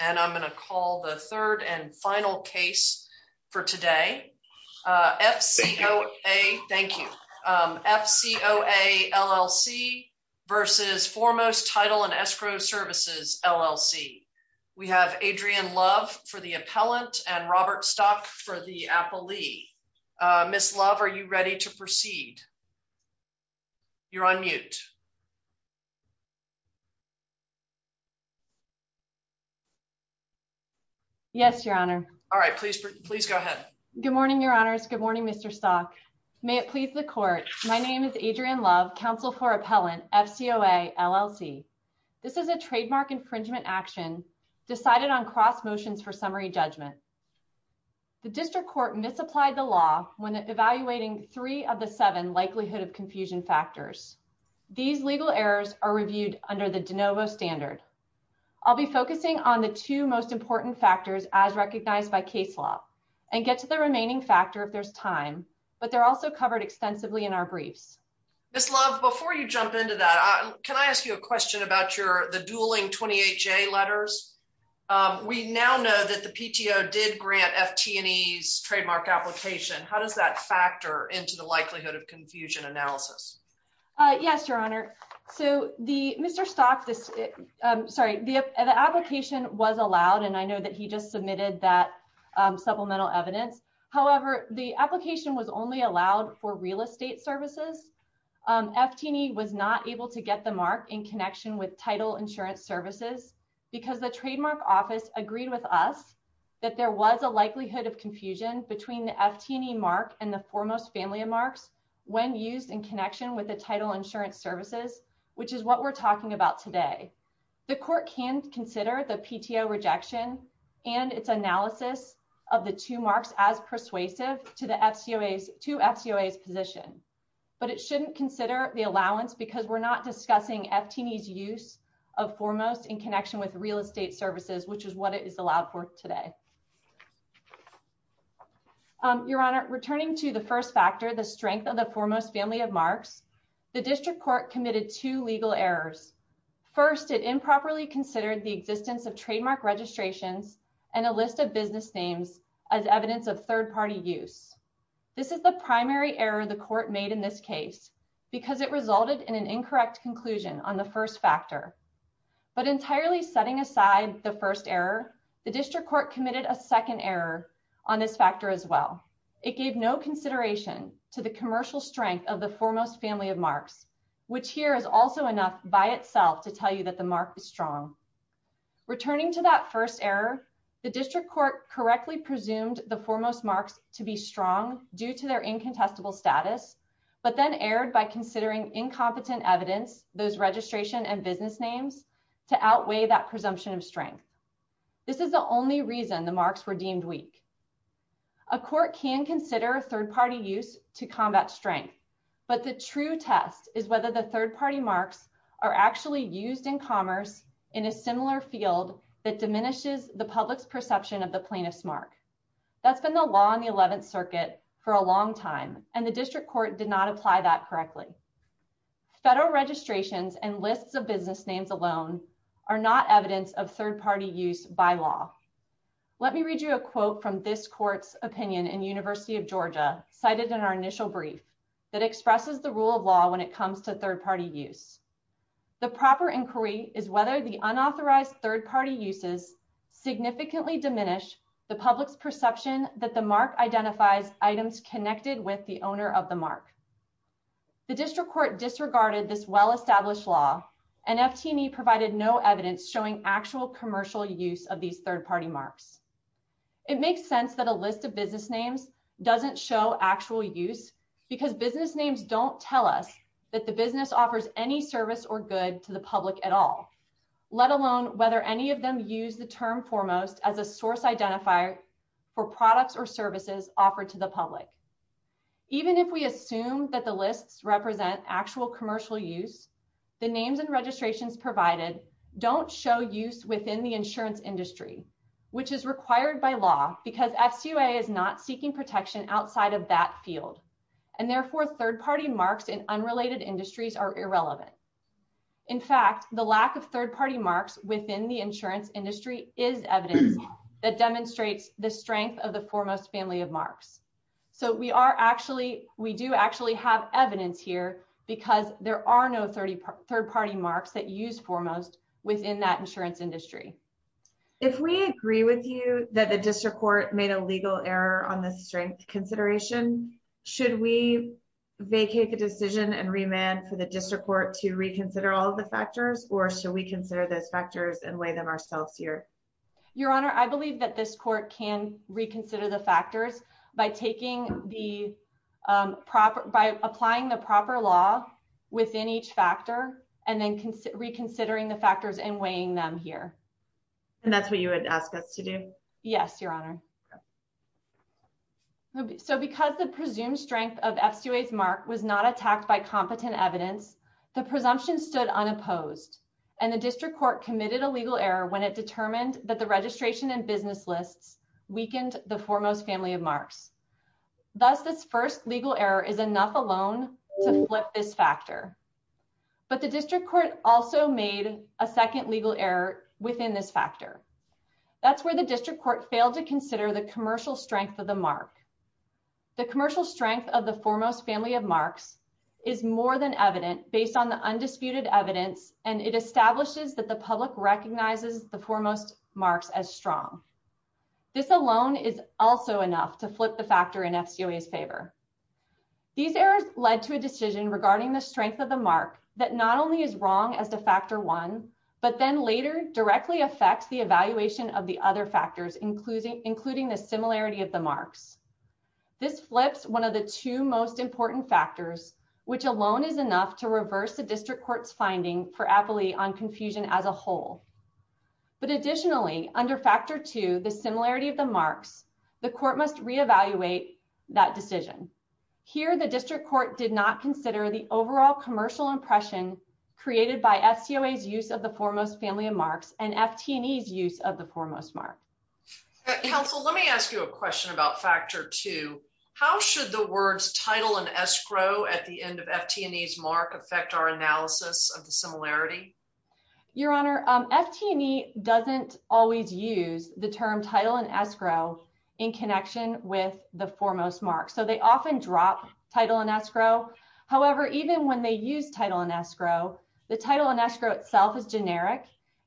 And I'm going to call the third and final case for today, FCOA, thank you, FCOA LLC versus Foremost Title & Escrow Services LLC. We have Adrian Love for the appellant and Robert Stock for the appellee. Miss Love, are you ready to proceed? You're on mute. Yes, Your Honor. All right, please, please go ahead. Good morning, Your Honors. Good morning, Mr. Stock. May it please the court, my name is Adrian Love, counsel for appellant, FCOA LLC. This is a trademark infringement action decided on cross motions for summary judgment. The district court misapplied the law when evaluating three of the seven likelihood of confusion factors. These legal errors are reviewed under the de novo standard. I'll be focusing on the two most important factors as recognized by case law and get to the remaining factor if there's time, but they're also covered extensively in our briefs. Miss Love, before you jump into that, can I ask you a question about the dueling 28-J letters? We now know that the PTO did grant FT&E's trademark application. How does that factor into the likelihood of confusion analysis? Yes, Your Honor. So, Mr. Stock, sorry, the application was allowed, and I know that he just submitted that supplemental evidence. However, the application was only allowed for real estate services. FT&E was not able to get the mark in connection with title insurance services because the trademark office agreed with us that there was a likelihood of confusion between the FT&E mark and the foremost family of marks when used in connection with the title insurance services, which is what we're talking about today. The court can consider the PTO rejection and its analysis of the two marks as persuasive to the FCOA's position, but it shouldn't consider the allowance because we're not discussing FT&E's use of foremost in connection with the title insurance services. In addition to the first factor, the strength of the foremost family of marks, the district court committed two legal errors. First, it improperly considered the existence of trademark registrations and a list of business names as evidence of third-party use. This is the primary error the court made in this case because it resulted in an incorrect conclusion on the first factor. But entirely setting aside the first error, the district court committed a consideration to the commercial strength of the foremost family of marks, which here is also enough by itself to tell you that the mark is strong. Returning to that first error, the district court correctly presumed the foremost marks to be strong due to their incontestable status, but then erred by considering incompetent evidence, those registration and business names, to outweigh that presumption of strength. This is the only reason the marks were deemed weak. A court can consider a third-party use to combat strength, but the true test is whether the third-party marks are actually used in commerce in a similar field that diminishes the public's perception of the plaintiff's mark. That's been the law in the 11th Circuit for a long time and the district court did not apply that correctly. Federal registrations and lists of business names alone are not evidence of third-party use by law. Let me read you a quote from this court's opinion in University of Georgia cited in our initial brief that expresses the rule of law when it comes to third-party use. The proper inquiry is whether the unauthorized third-party uses significantly diminish the public's perception that the mark identifies items connected with the owner of the mark. The district court disregarded this well-established law and FT&E provided no evidence showing actual commercial use of these third-party marks. It makes sense that a list of business names doesn't show actual use because business names don't tell us that the business offers any service or good to the public at all, let alone whether any of them use the term foremost as a source identifier for products or services offered to the public. Even if we assume that the lists represent actual commercial use, the names and registrations provided don't show use within the insurance industry, which is required by law because FCOA is not seeking protection outside of that field and therefore third-party marks in unrelated industries are irrelevant. In fact, the lack of third-party marks within the insurance industry is evidence that demonstrates the strength of the foremost family of marks. So, we do actually have evidence here because there are no third-party marks that use foremost within that insurance industry. If we agree with you that the district court made a legal error on the strength consideration, should we vacate the decision and remand for the district court to reconsider all the factors or should we consider those factors and weigh them ourselves here? Your Honor, I believe that this court can reconsider the factors by applying the proper law within each factor and then reconsidering the factors and weighing them here. And that's what you would ask us to do? Yes, Your Honor. So, because the presumed strength of FCOA's mark was not attacked by competent evidence, the presumption stood unopposed and the district court committed a legal error when it determined that the registration and business lists weakened the foremost family of marks. Thus, this first legal error is enough alone to flip this factor. But the district court also made a second legal error within this factor. That's where the district court failed to consider the commercial strength of the mark. The commercial strength of the foremost family of marks is more than evident based on the undisputed evidence and it establishes that the public recognizes the foremost marks as strong. This alone is also enough to flip the factor in FCOA's favor. These errors led to a decision regarding the strength of the mark that not only is wrong as to factor one, but then later directly affects the evaluation of the other factors, including the similarity of the marks. This flips one of the two most important factors, which alone is enough to reverse the district court's finding for Appley on confusion as a whole. But additionally, under factor two, the similarity of the marks, the court must reevaluate that decision. Here, the district court did not consider the overall commercial impression created by FCOA's use of the foremost family of marks and FT&E's use of the foremost mark. Counsel, let me ask you a question about factor two. How should the words title and escrow at the end of FT&E's mark affect our analysis of the similarity? Your honor, FT&E doesn't always use the term title and escrow in connection with the foremost mark. So they often drop title and escrow. However, even when they use title and escrow, the title and escrow itself is generic.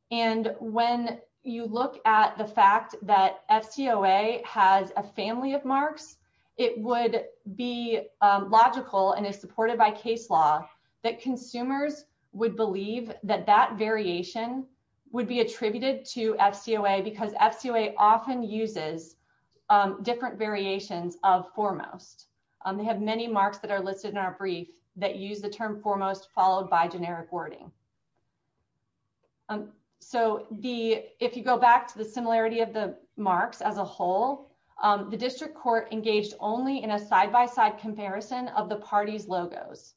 And when you at the fact that FCOA has a family of marks, it would be logical and is supported by case law that consumers would believe that that variation would be attributed to FCOA because FCOA often uses different variations of foremost. They have many marks that are listed in our brief that use the term foremost followed by generic wording. So if you go back to the similarity of the marks as a whole, the district court engaged only in a side-by-side comparison of the parties' logos.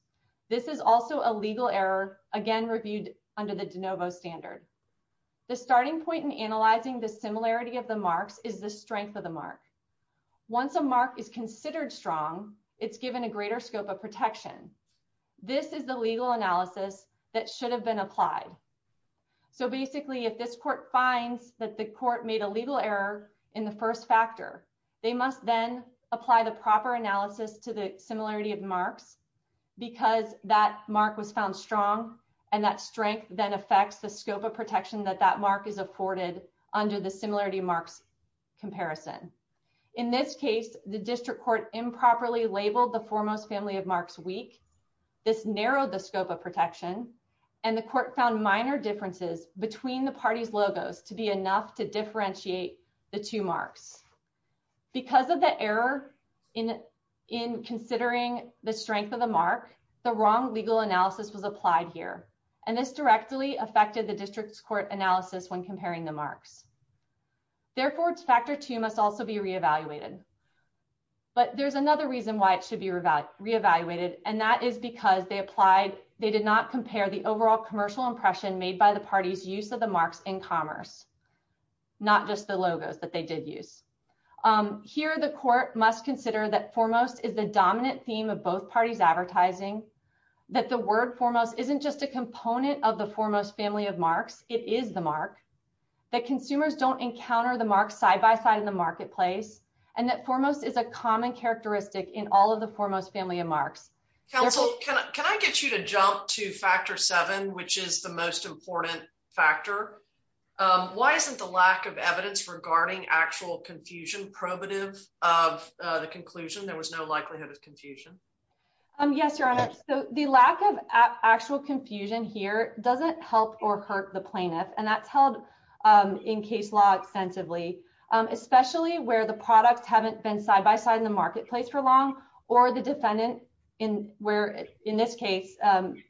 This is also a legal error, again, reviewed under the de novo standard. The starting point in analyzing the similarity of the marks is the strength of the mark. Once a mark is considered strong, it's given a greater scope of protection. This is the legal analysis that should have been applied. So basically, if this court finds that the court made a legal error in the first factor, they must then apply the proper analysis to the similarity of marks because that mark was found strong and that strength then affects the scope of protection that that mark is afforded under the similarity marks comparison. In this case, the district court improperly labeled the foremost family of marks weak. This narrowed the scope of protection, and the court found minor differences between the parties' logos to be enough to differentiate the two marks. Because of the error in considering the strength of the mark, the wrong legal analysis was applied here, and this directly affected the factor two must also be re-evaluated. But there's another reason why it should be re-evaluated, and that is because they did not compare the overall commercial impression made by the parties' use of the marks in commerce, not just the logos that they did use. Here, the court must consider that foremost is the dominant theme of both parties' advertising, that the word foremost isn't just a component of the foremost family of marks, it is the mark, that consumers don't encounter the mark side by side in the marketplace, and that foremost is a common characteristic in all of the foremost family of marks. Counsel, can I get you to jump to factor seven, which is the most important factor? Why isn't the lack of evidence regarding actual confusion probative of the conclusion? There was no likelihood of confusion. Yes, Your Honor, so the lack of actual confusion here doesn't help or hurt the plaintiff, and that's held in case law extensively, especially where the products haven't been side by side in the marketplace for long, or the defendant, where in this case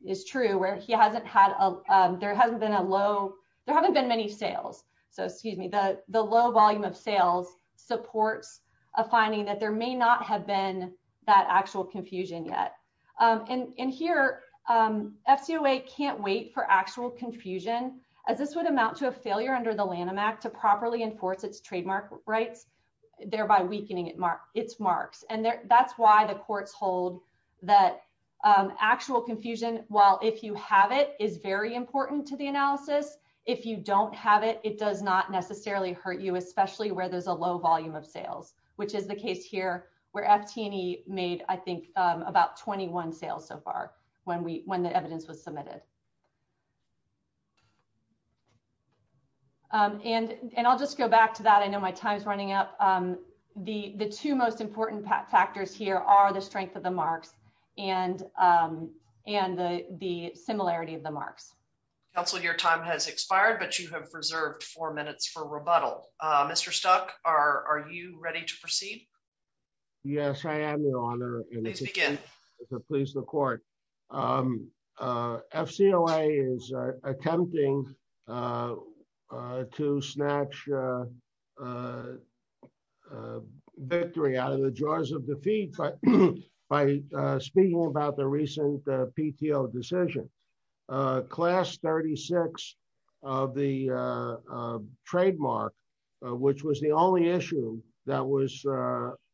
is true, where he hasn't had a, there hasn't been a low, there haven't been many sales, so excuse me, the low volume of sales supports a finding that there may not have been that actual confusion yet, and here, FCOA can't wait for actual confusion, as this would amount to a failure under the Lanham Act to properly enforce its trademark rights, thereby weakening its marks, and that's why the courts hold that actual confusion, while if you have it, is very important to the analysis, if you don't have it, it does not necessarily hurt you, especially where there's a low volume of sales, which is the case here, where FT&E made, I think, about 21 sales so far, when the evidence was submitted, and I'll just go back to that. I know my time's running up. The two most important factors here are the strength of the marks and the similarity of the marks. Counsel, your time has expired, but you have reserved four minutes for rebuttal. Mr. Stuck, are you ready to proceed? Yes, I am, Your Honor. Please begin. Please, the court. FCOA is attempting to snatch victory out of the jaws of defeat by speaking about the recent PTO decision. Class 36 of the trademark, which was the only issue that was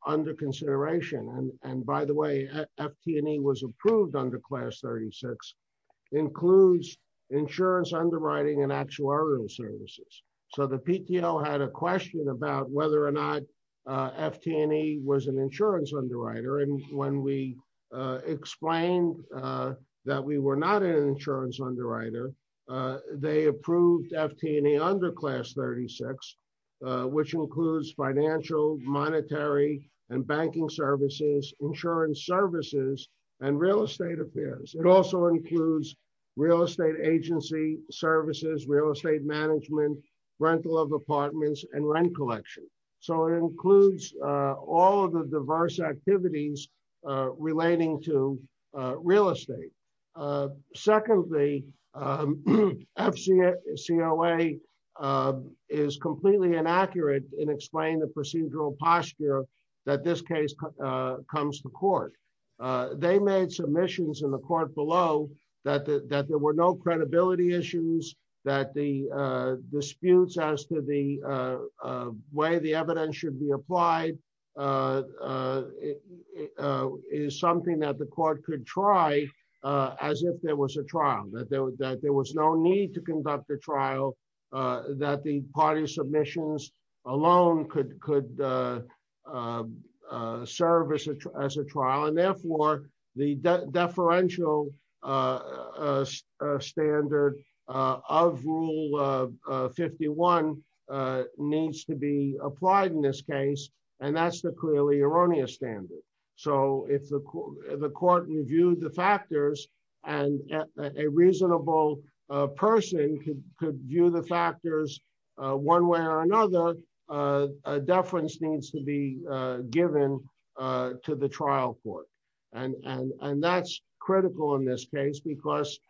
under consideration, and by the way, FT&E was approved under Class 36, includes insurance underwriting and actuarial services, so the PTO had a question about whether or not FT&E was an insurance underwriter, and when we explained that we were not an insurance underwriter, they approved FT&E under Class 36, which includes financial, monetary, and banking services, insurance services, and real estate affairs. It also includes real estate agency services, real estate management, rental of real estate. Secondly, FCOA is completely inaccurate in explaining the procedural posture that this case comes to court. They made submissions in the court below that there were no credibility issues, that the disputes as to the way the evidence should be applied is something that the court could try as if there was a trial, that there was no need to conduct a trial, that the party submissions alone could serve as a trial, and therefore, the deferential standard of Rule 51 needs to be applied in this case, and that's the clearly erroneous standard, so if the court reviewed the factors and a reasonable person could view the factors one way or another, a deference needs to be given to the trial court, and that's critical in this case because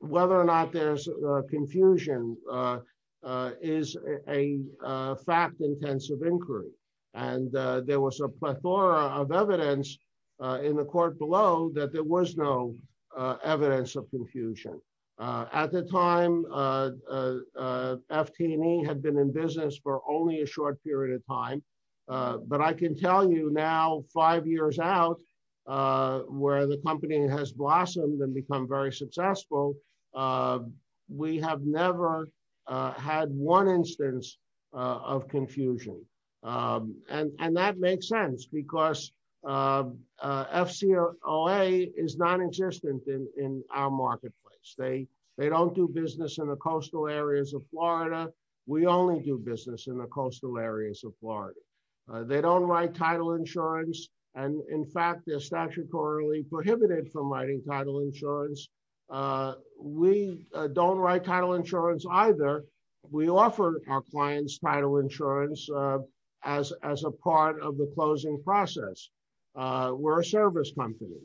whether or not there's confusion is a fact-intensive inquiry, and there was a plethora of evidence in the court below that there was no evidence of confusion. At the time, FT&E had been in business for only a short period of time, but I can tell you now, five years out, where the company has blossomed and become very successful, we have never had one instance of confusion, and that makes sense because FCOA is non-existent in our marketplace. They don't do business in the coastal areas of Florida. We only do business in the coastal areas of Florida. They don't write title insurance, and in fact, they're statutorily prohibited from writing title insurance. We don't write title insurance either. We offer our clients title insurance as a part of the closing process. We're a service company.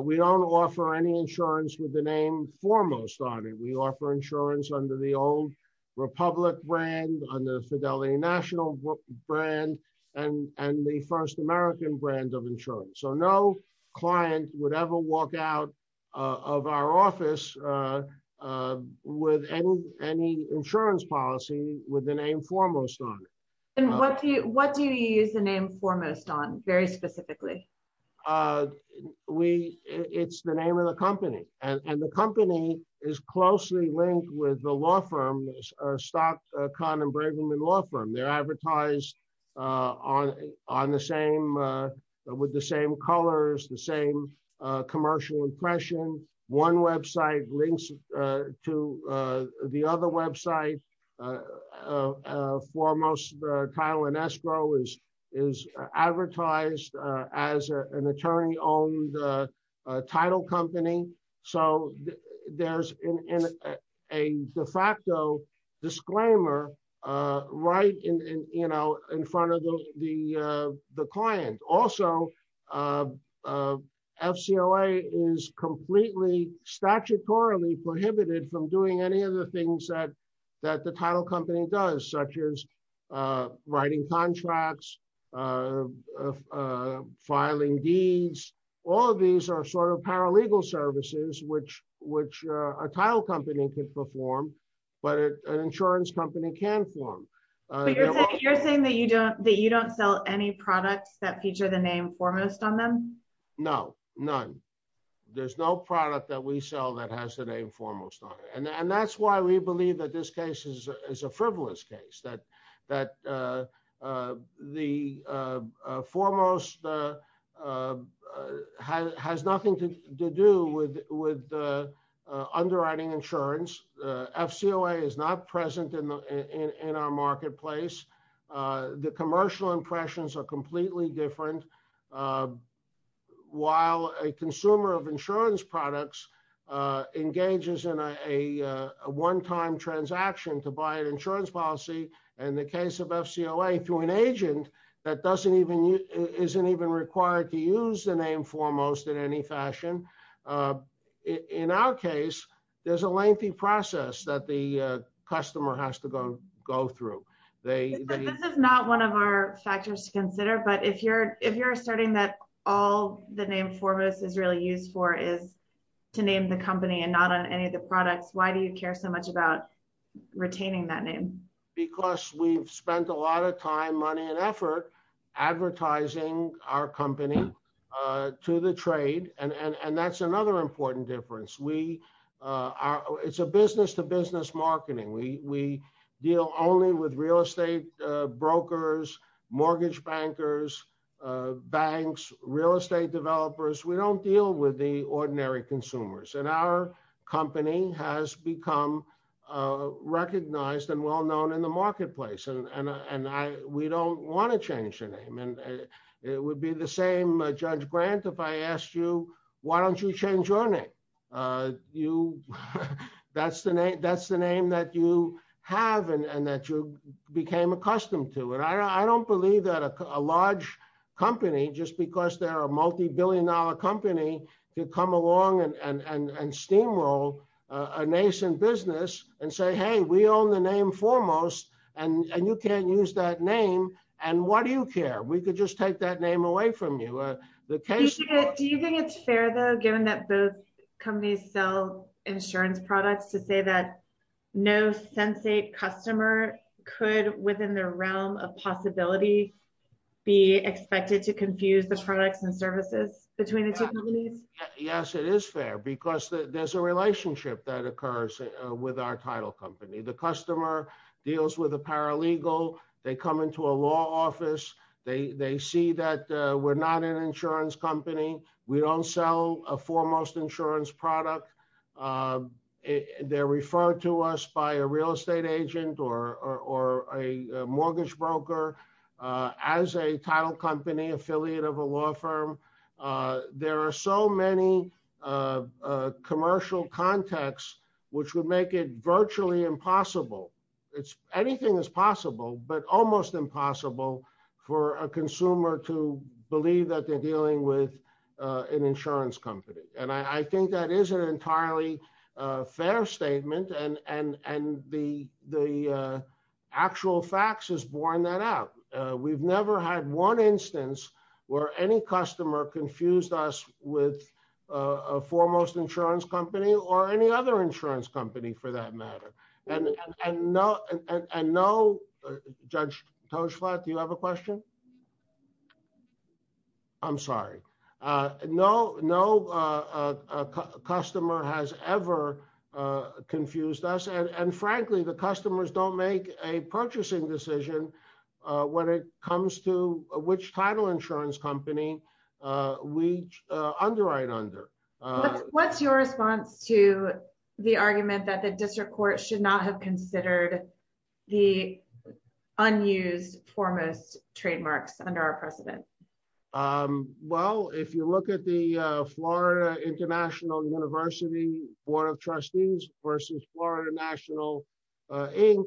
We don't offer any insurance with the name Foremost on it. We offer insurance under the old Republic brand, under the Fidelity National brand, and the First American brand of insurance, so no client would ever walk out of our office with any insurance policy with the name Foremost on it. What do you use the name Foremost on very specifically? It's the name of the company, and the company is closely linked with the law firm, Stott, Kahn, and Brigham Law Firm. They're advertised with the same colors, the same commercial impression. One website links to the other website. Foremost, Kyle and Estro is advertised as an attorney-owned title company, so there's a de facto disclaimer right in front of the client. Also, FCOA is completely statutorily prohibited from doing any of the things that the title company does, such as writing contracts, filing deeds. All of these are sort of paralegal services, which a title company can perform, but an insurance company can't perform. You're saying that you don't sell any products that feature the name Foremost on them? No, none. There's no product that we sell that has the name Foremost on it, and that's why we believe that this case is a frivolous case, that Foremost has nothing to do with underwriting insurance. FCOA is not present in our marketplace. The commercial impressions are completely different. While a consumer of insurance products engages in a one-time transaction to buy an insurance policy, in the case of FCOA, through an agent that isn't even required to use the name Foremost in any fashion, in our case, there's a lengthy process that the customer has to go through. This is not one of our factors to consider, but if you're asserting that all the name Foremost is really used for is to name the company and not on any of the products, why do you care so much about retaining that name? Because we've spent a lot of time, money, and effort advertising our company to the trade, and that's another important difference. It's a business-to-business marketing. We deal only with real estate brokers, mortgage bankers, banks, real estate developers. We don't deal with the ordinary consumers. Our company has become recognized and well-known in the marketplace, and we don't want to change the name. It would be the same, Judge Grant, if I asked you, why don't you change your name? That's the name that you have and that you became accustomed to. I don't believe that a large company, just because they're a multi-billion dollar company, could come along and steamroll a nascent business and say, hey, we own the name Foremost, and you can't use that name, and why do you care? We could just take that name away from you. Do you think it's fair, though, given that both companies sell insurance products, to say that no sensate customer could, within the realm of possibility, be expected to confuse the products and services between the two companies? Yes, it is fair, because there's a relationship that occurs with our title company. The customer deals with a paralegal. They come into a law office. They see that we're not an insurance company. We don't sell a Foremost insurance product. They're referred to us by a real estate agent or a mortgage broker as a title company affiliate of a law firm. There are so many commercial contexts which would make it virtually impossible. Anything is possible, but almost impossible for a consumer to believe that they're dealing with an insurance company. And I think that is an entirely fair statement, and the actual facts has borne that out. We've never had one instance where any customer confused us with a Foremost insurance company or any other insurance company, for that matter. And no—Judge Toshlatt, do you have a question? I'm sorry. No customer has ever confused us. And frankly, the customers don't make a purchasing decision when it comes to which title insurance company we underwrite under. What's your response to the argument that the district court should not have considered the unused Foremost trademarks under our precedent? Well, if you look at the Florida International University Board of Trustees versus Florida National Inc.,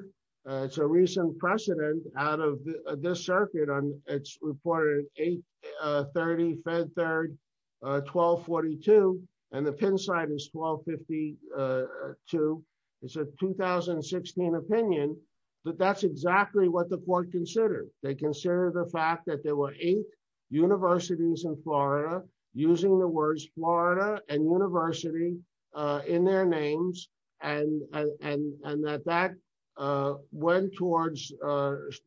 it's a recent precedent out of this circuit. It's reported 830 Fed Third 1242, and the Penn side is 1252. It's a 2016 opinion, but that's exactly what the court considered. They considered the fact that there were eight universities in Florida using the words Florida and university in their names and that that went towards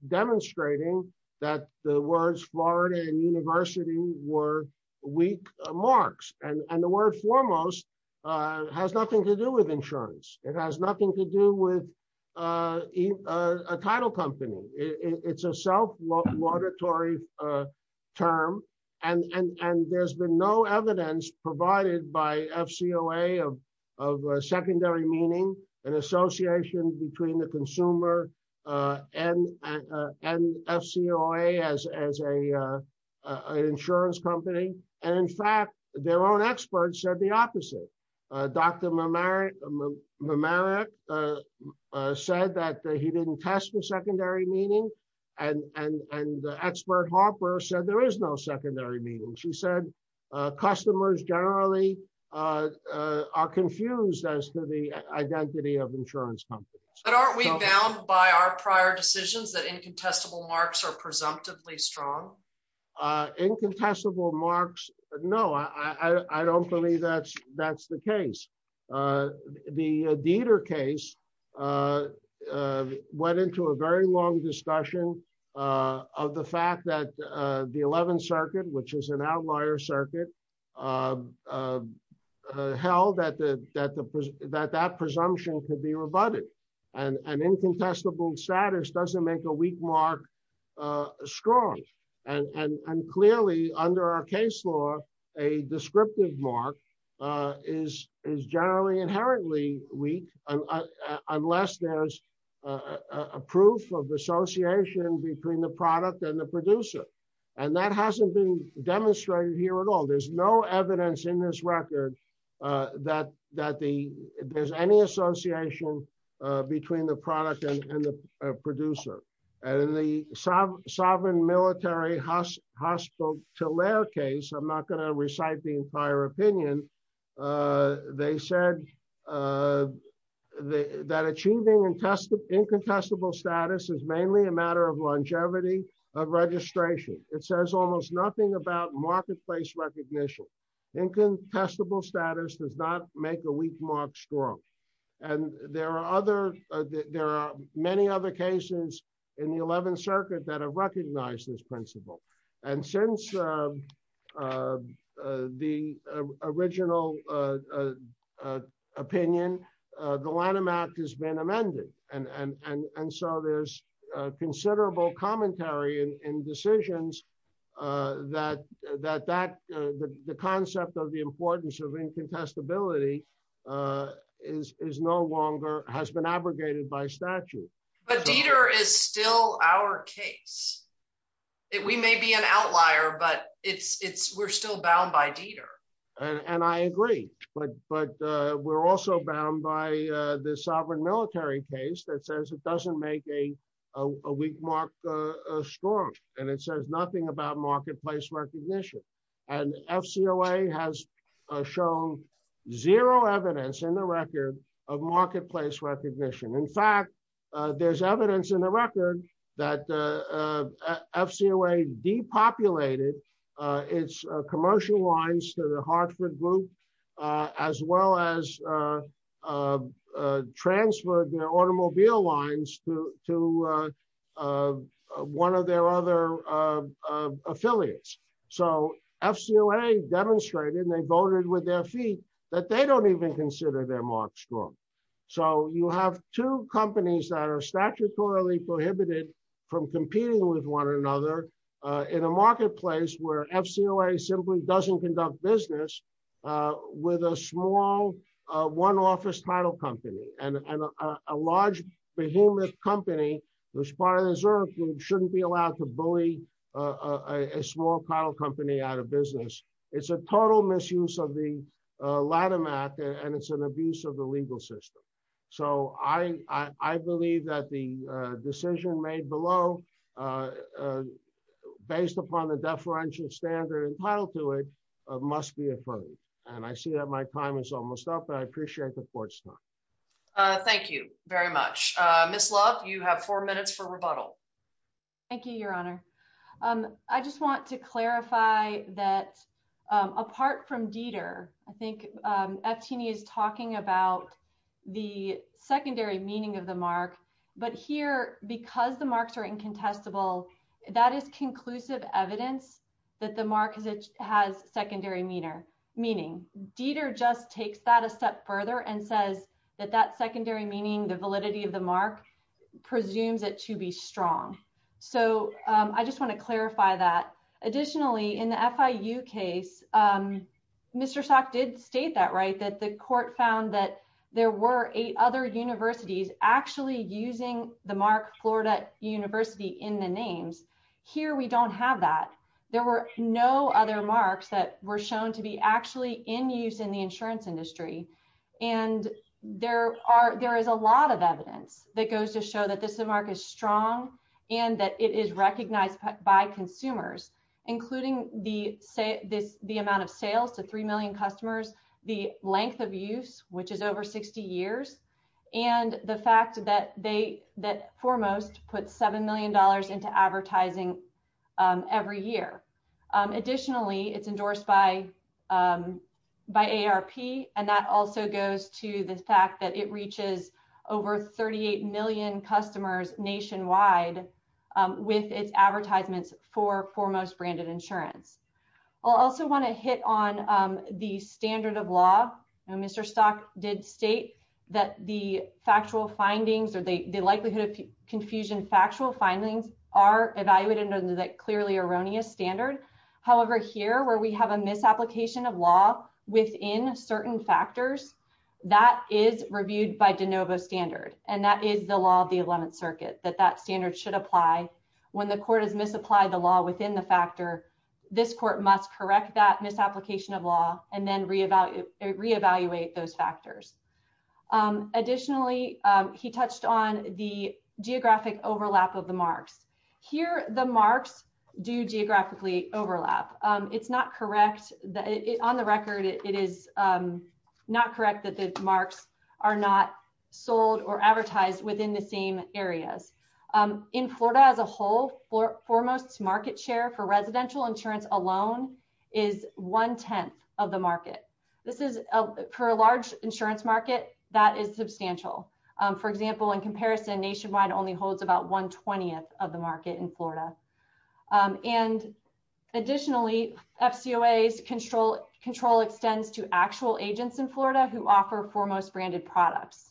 demonstrating that the words Florida and university were weak marks. And the word Foremost has nothing to do with insurance. It has nothing to do with a title company. It's a self-laudatory term, and there's been no evidence provided by FCOA of secondary meaning and association between the consumer and FCOA as an insurance company. And in fact, their own experts said the opposite. Dr. Mamarik said that he didn't test for secondary meaning, and the expert Harper said there is no secondary meaning. She said, customers generally are confused as to the identity of insurance companies. But aren't we bound by our prior decisions that incontestable marks are presumptively strong? Incontestable marks? No, I don't believe that's the case. The Dieter case went into a very long discussion of the fact that the 11th circuit, which is an outlier circuit, held that that presumption could be rebutted. And incontestable status doesn't make a weak mark strong. And clearly under our case law, a descriptive mark is generally inherently weak, unless there's a proof of association between the product and the producer. And that hasn't been demonstrated here at all. There's no evidence in this record that there's any association between the product and the producer. And in the sovereign military hospital to layer case, I'm not going to recite the entire opinion. They said that achieving incontestable status is mainly a matter of longevity of registration. It says almost nothing about marketplace recognition. Incontestable status does not make a weak mark strong. And there are many other cases in the 11th circuit that have recognized this principle. And since the original opinion, the Lanham Act has been amended. And so there's considerable commentary in decisions that the concept of the importance of incontestability has been abrogated by statute. But Dieter is still our case. We may be an outlier, but we're still bound by Dieter. And I agree. But we're also bound by the sovereign military case that says it doesn't make a weak mark strong. And it says nothing about marketplace recognition. And FCOA has shown zero evidence in the record of marketplace recognition. In fact, there's evidence in the record that the FCOA depopulated its commercial lines to the Hartford Group, as well as transferred their automobile lines to one of their other affiliates. So FCOA demonstrated, and they voted with their feet, that they don't even consider their mark strong. So you have two companies that are statutorily prohibited from competing with one another in a marketplace where FCOA simply doesn't conduct business with a small one-office title company. And a large behemoth company, which is part of the reserve group, shouldn't be allowed to bully a small title company out of business. It's a total misuse of the Lanham Act, and it's an abuse of the legal system. So I believe that the decision made below based upon the deferential standard entitled to it must be affirmed. And I see that my time is almost up, and I appreciate the court's time. Thank you very much. Ms. Love, you have four minutes for rebuttal. Thank you, Your Honor. I just want to clarify that apart from Dieter, I think Efteni is talking about the secondary meaning of the mark. But here, because the marks are incontestable, that is conclusive evidence that the mark has secondary meaning. Dieter just takes that a step further and says that that secondary meaning, the validity of the mark, presumes it to be strong. So I just want to clarify that. Additionally, in the FIU case, Mr. Salk did state that, right, that the court found that there were eight other universities actually using the mark Florida University in the names. Here, we don't have that. There were no other marks that were shown to be actually in use in the insurance industry. And there is a lot of evidence that goes to show that this mark is strong and that it is recognized by consumers, including the amount of sales to three million customers, the length of use, which is over 60 years, and the fact that Foremost puts $7 million into advertising every year. Additionally, it's endorsed by AARP. And that also goes to the fact that it reaches over 38 million customers nationwide with its advertisements for Foremost Branded Insurance. I'll also want to hit on the standard of law. Mr. Salk did state that the factual findings or the likelihood of confusion factual findings are evaluated under that clearly erroneous standard. However, here, where we have a misapplication of law within certain factors, that is reviewed by de novo standard. And that is the law of the 11th Circuit, that that standard should apply. When the court has misapplied the law within the factor, this court must correct that misapplication of law and then reevaluate those factors. Additionally, he touched on the geographic overlap of the marks. Here, the marks do geographically overlap. It's not correct. On the record, it is not correct that the marks are not sold or residential insurance alone is one-tenth of the market. For a large insurance market, that is substantial. For example, in comparison, Nationwide only holds about one-twentieth of the market in Florida. And additionally, FCOA's control extends to actual agents in Florida who offer Foremost Branded products,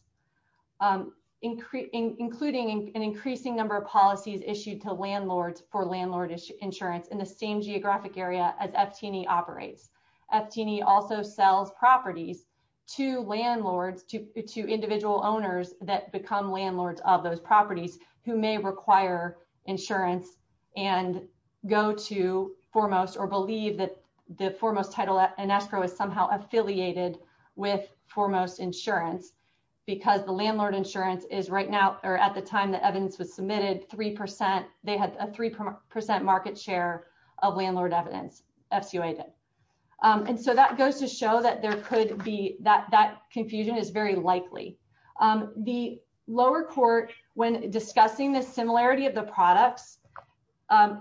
including an increasing number of policies issued to landlords for landlord insurance in the same geographic area as FT&E operates. FT&E also sells properties to landlords, to individual owners that become landlords of those properties who may require insurance and go to Foremost or believe that the Foremost title and escrow is somehow affiliated with Foremost Insurance because the landlord insurance is right now, or at the time the evidence was submitted, they had a three percent market share of landlord evidence, FCOA did. And so that goes to show that that confusion is very likely. The lower court, when discussing the similarity of the products,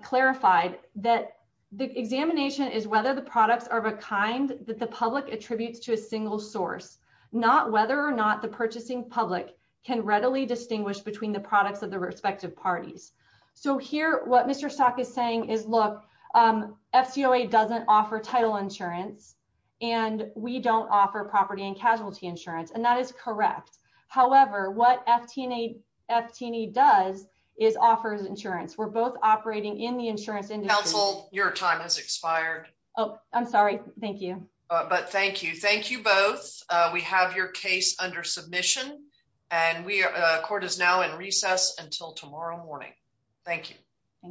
clarified that the examination is whether the products are of a kind that the public attributes to a single source, not whether or not the purchasing public can readily distinguish between the products of the respective parties. So here, what Mr. Stock is saying is, look, FCOA doesn't offer title insurance and we don't offer property and casualty insurance. And that is correct. However, what FT&E does is offers insurance. We're both operating in the insurance industry. Counsel, your time has expired. Oh, I'm sorry. Thank you. But thank you. Thank you both. We have your case under submission and court is now in recess until tomorrow morning. Thank you.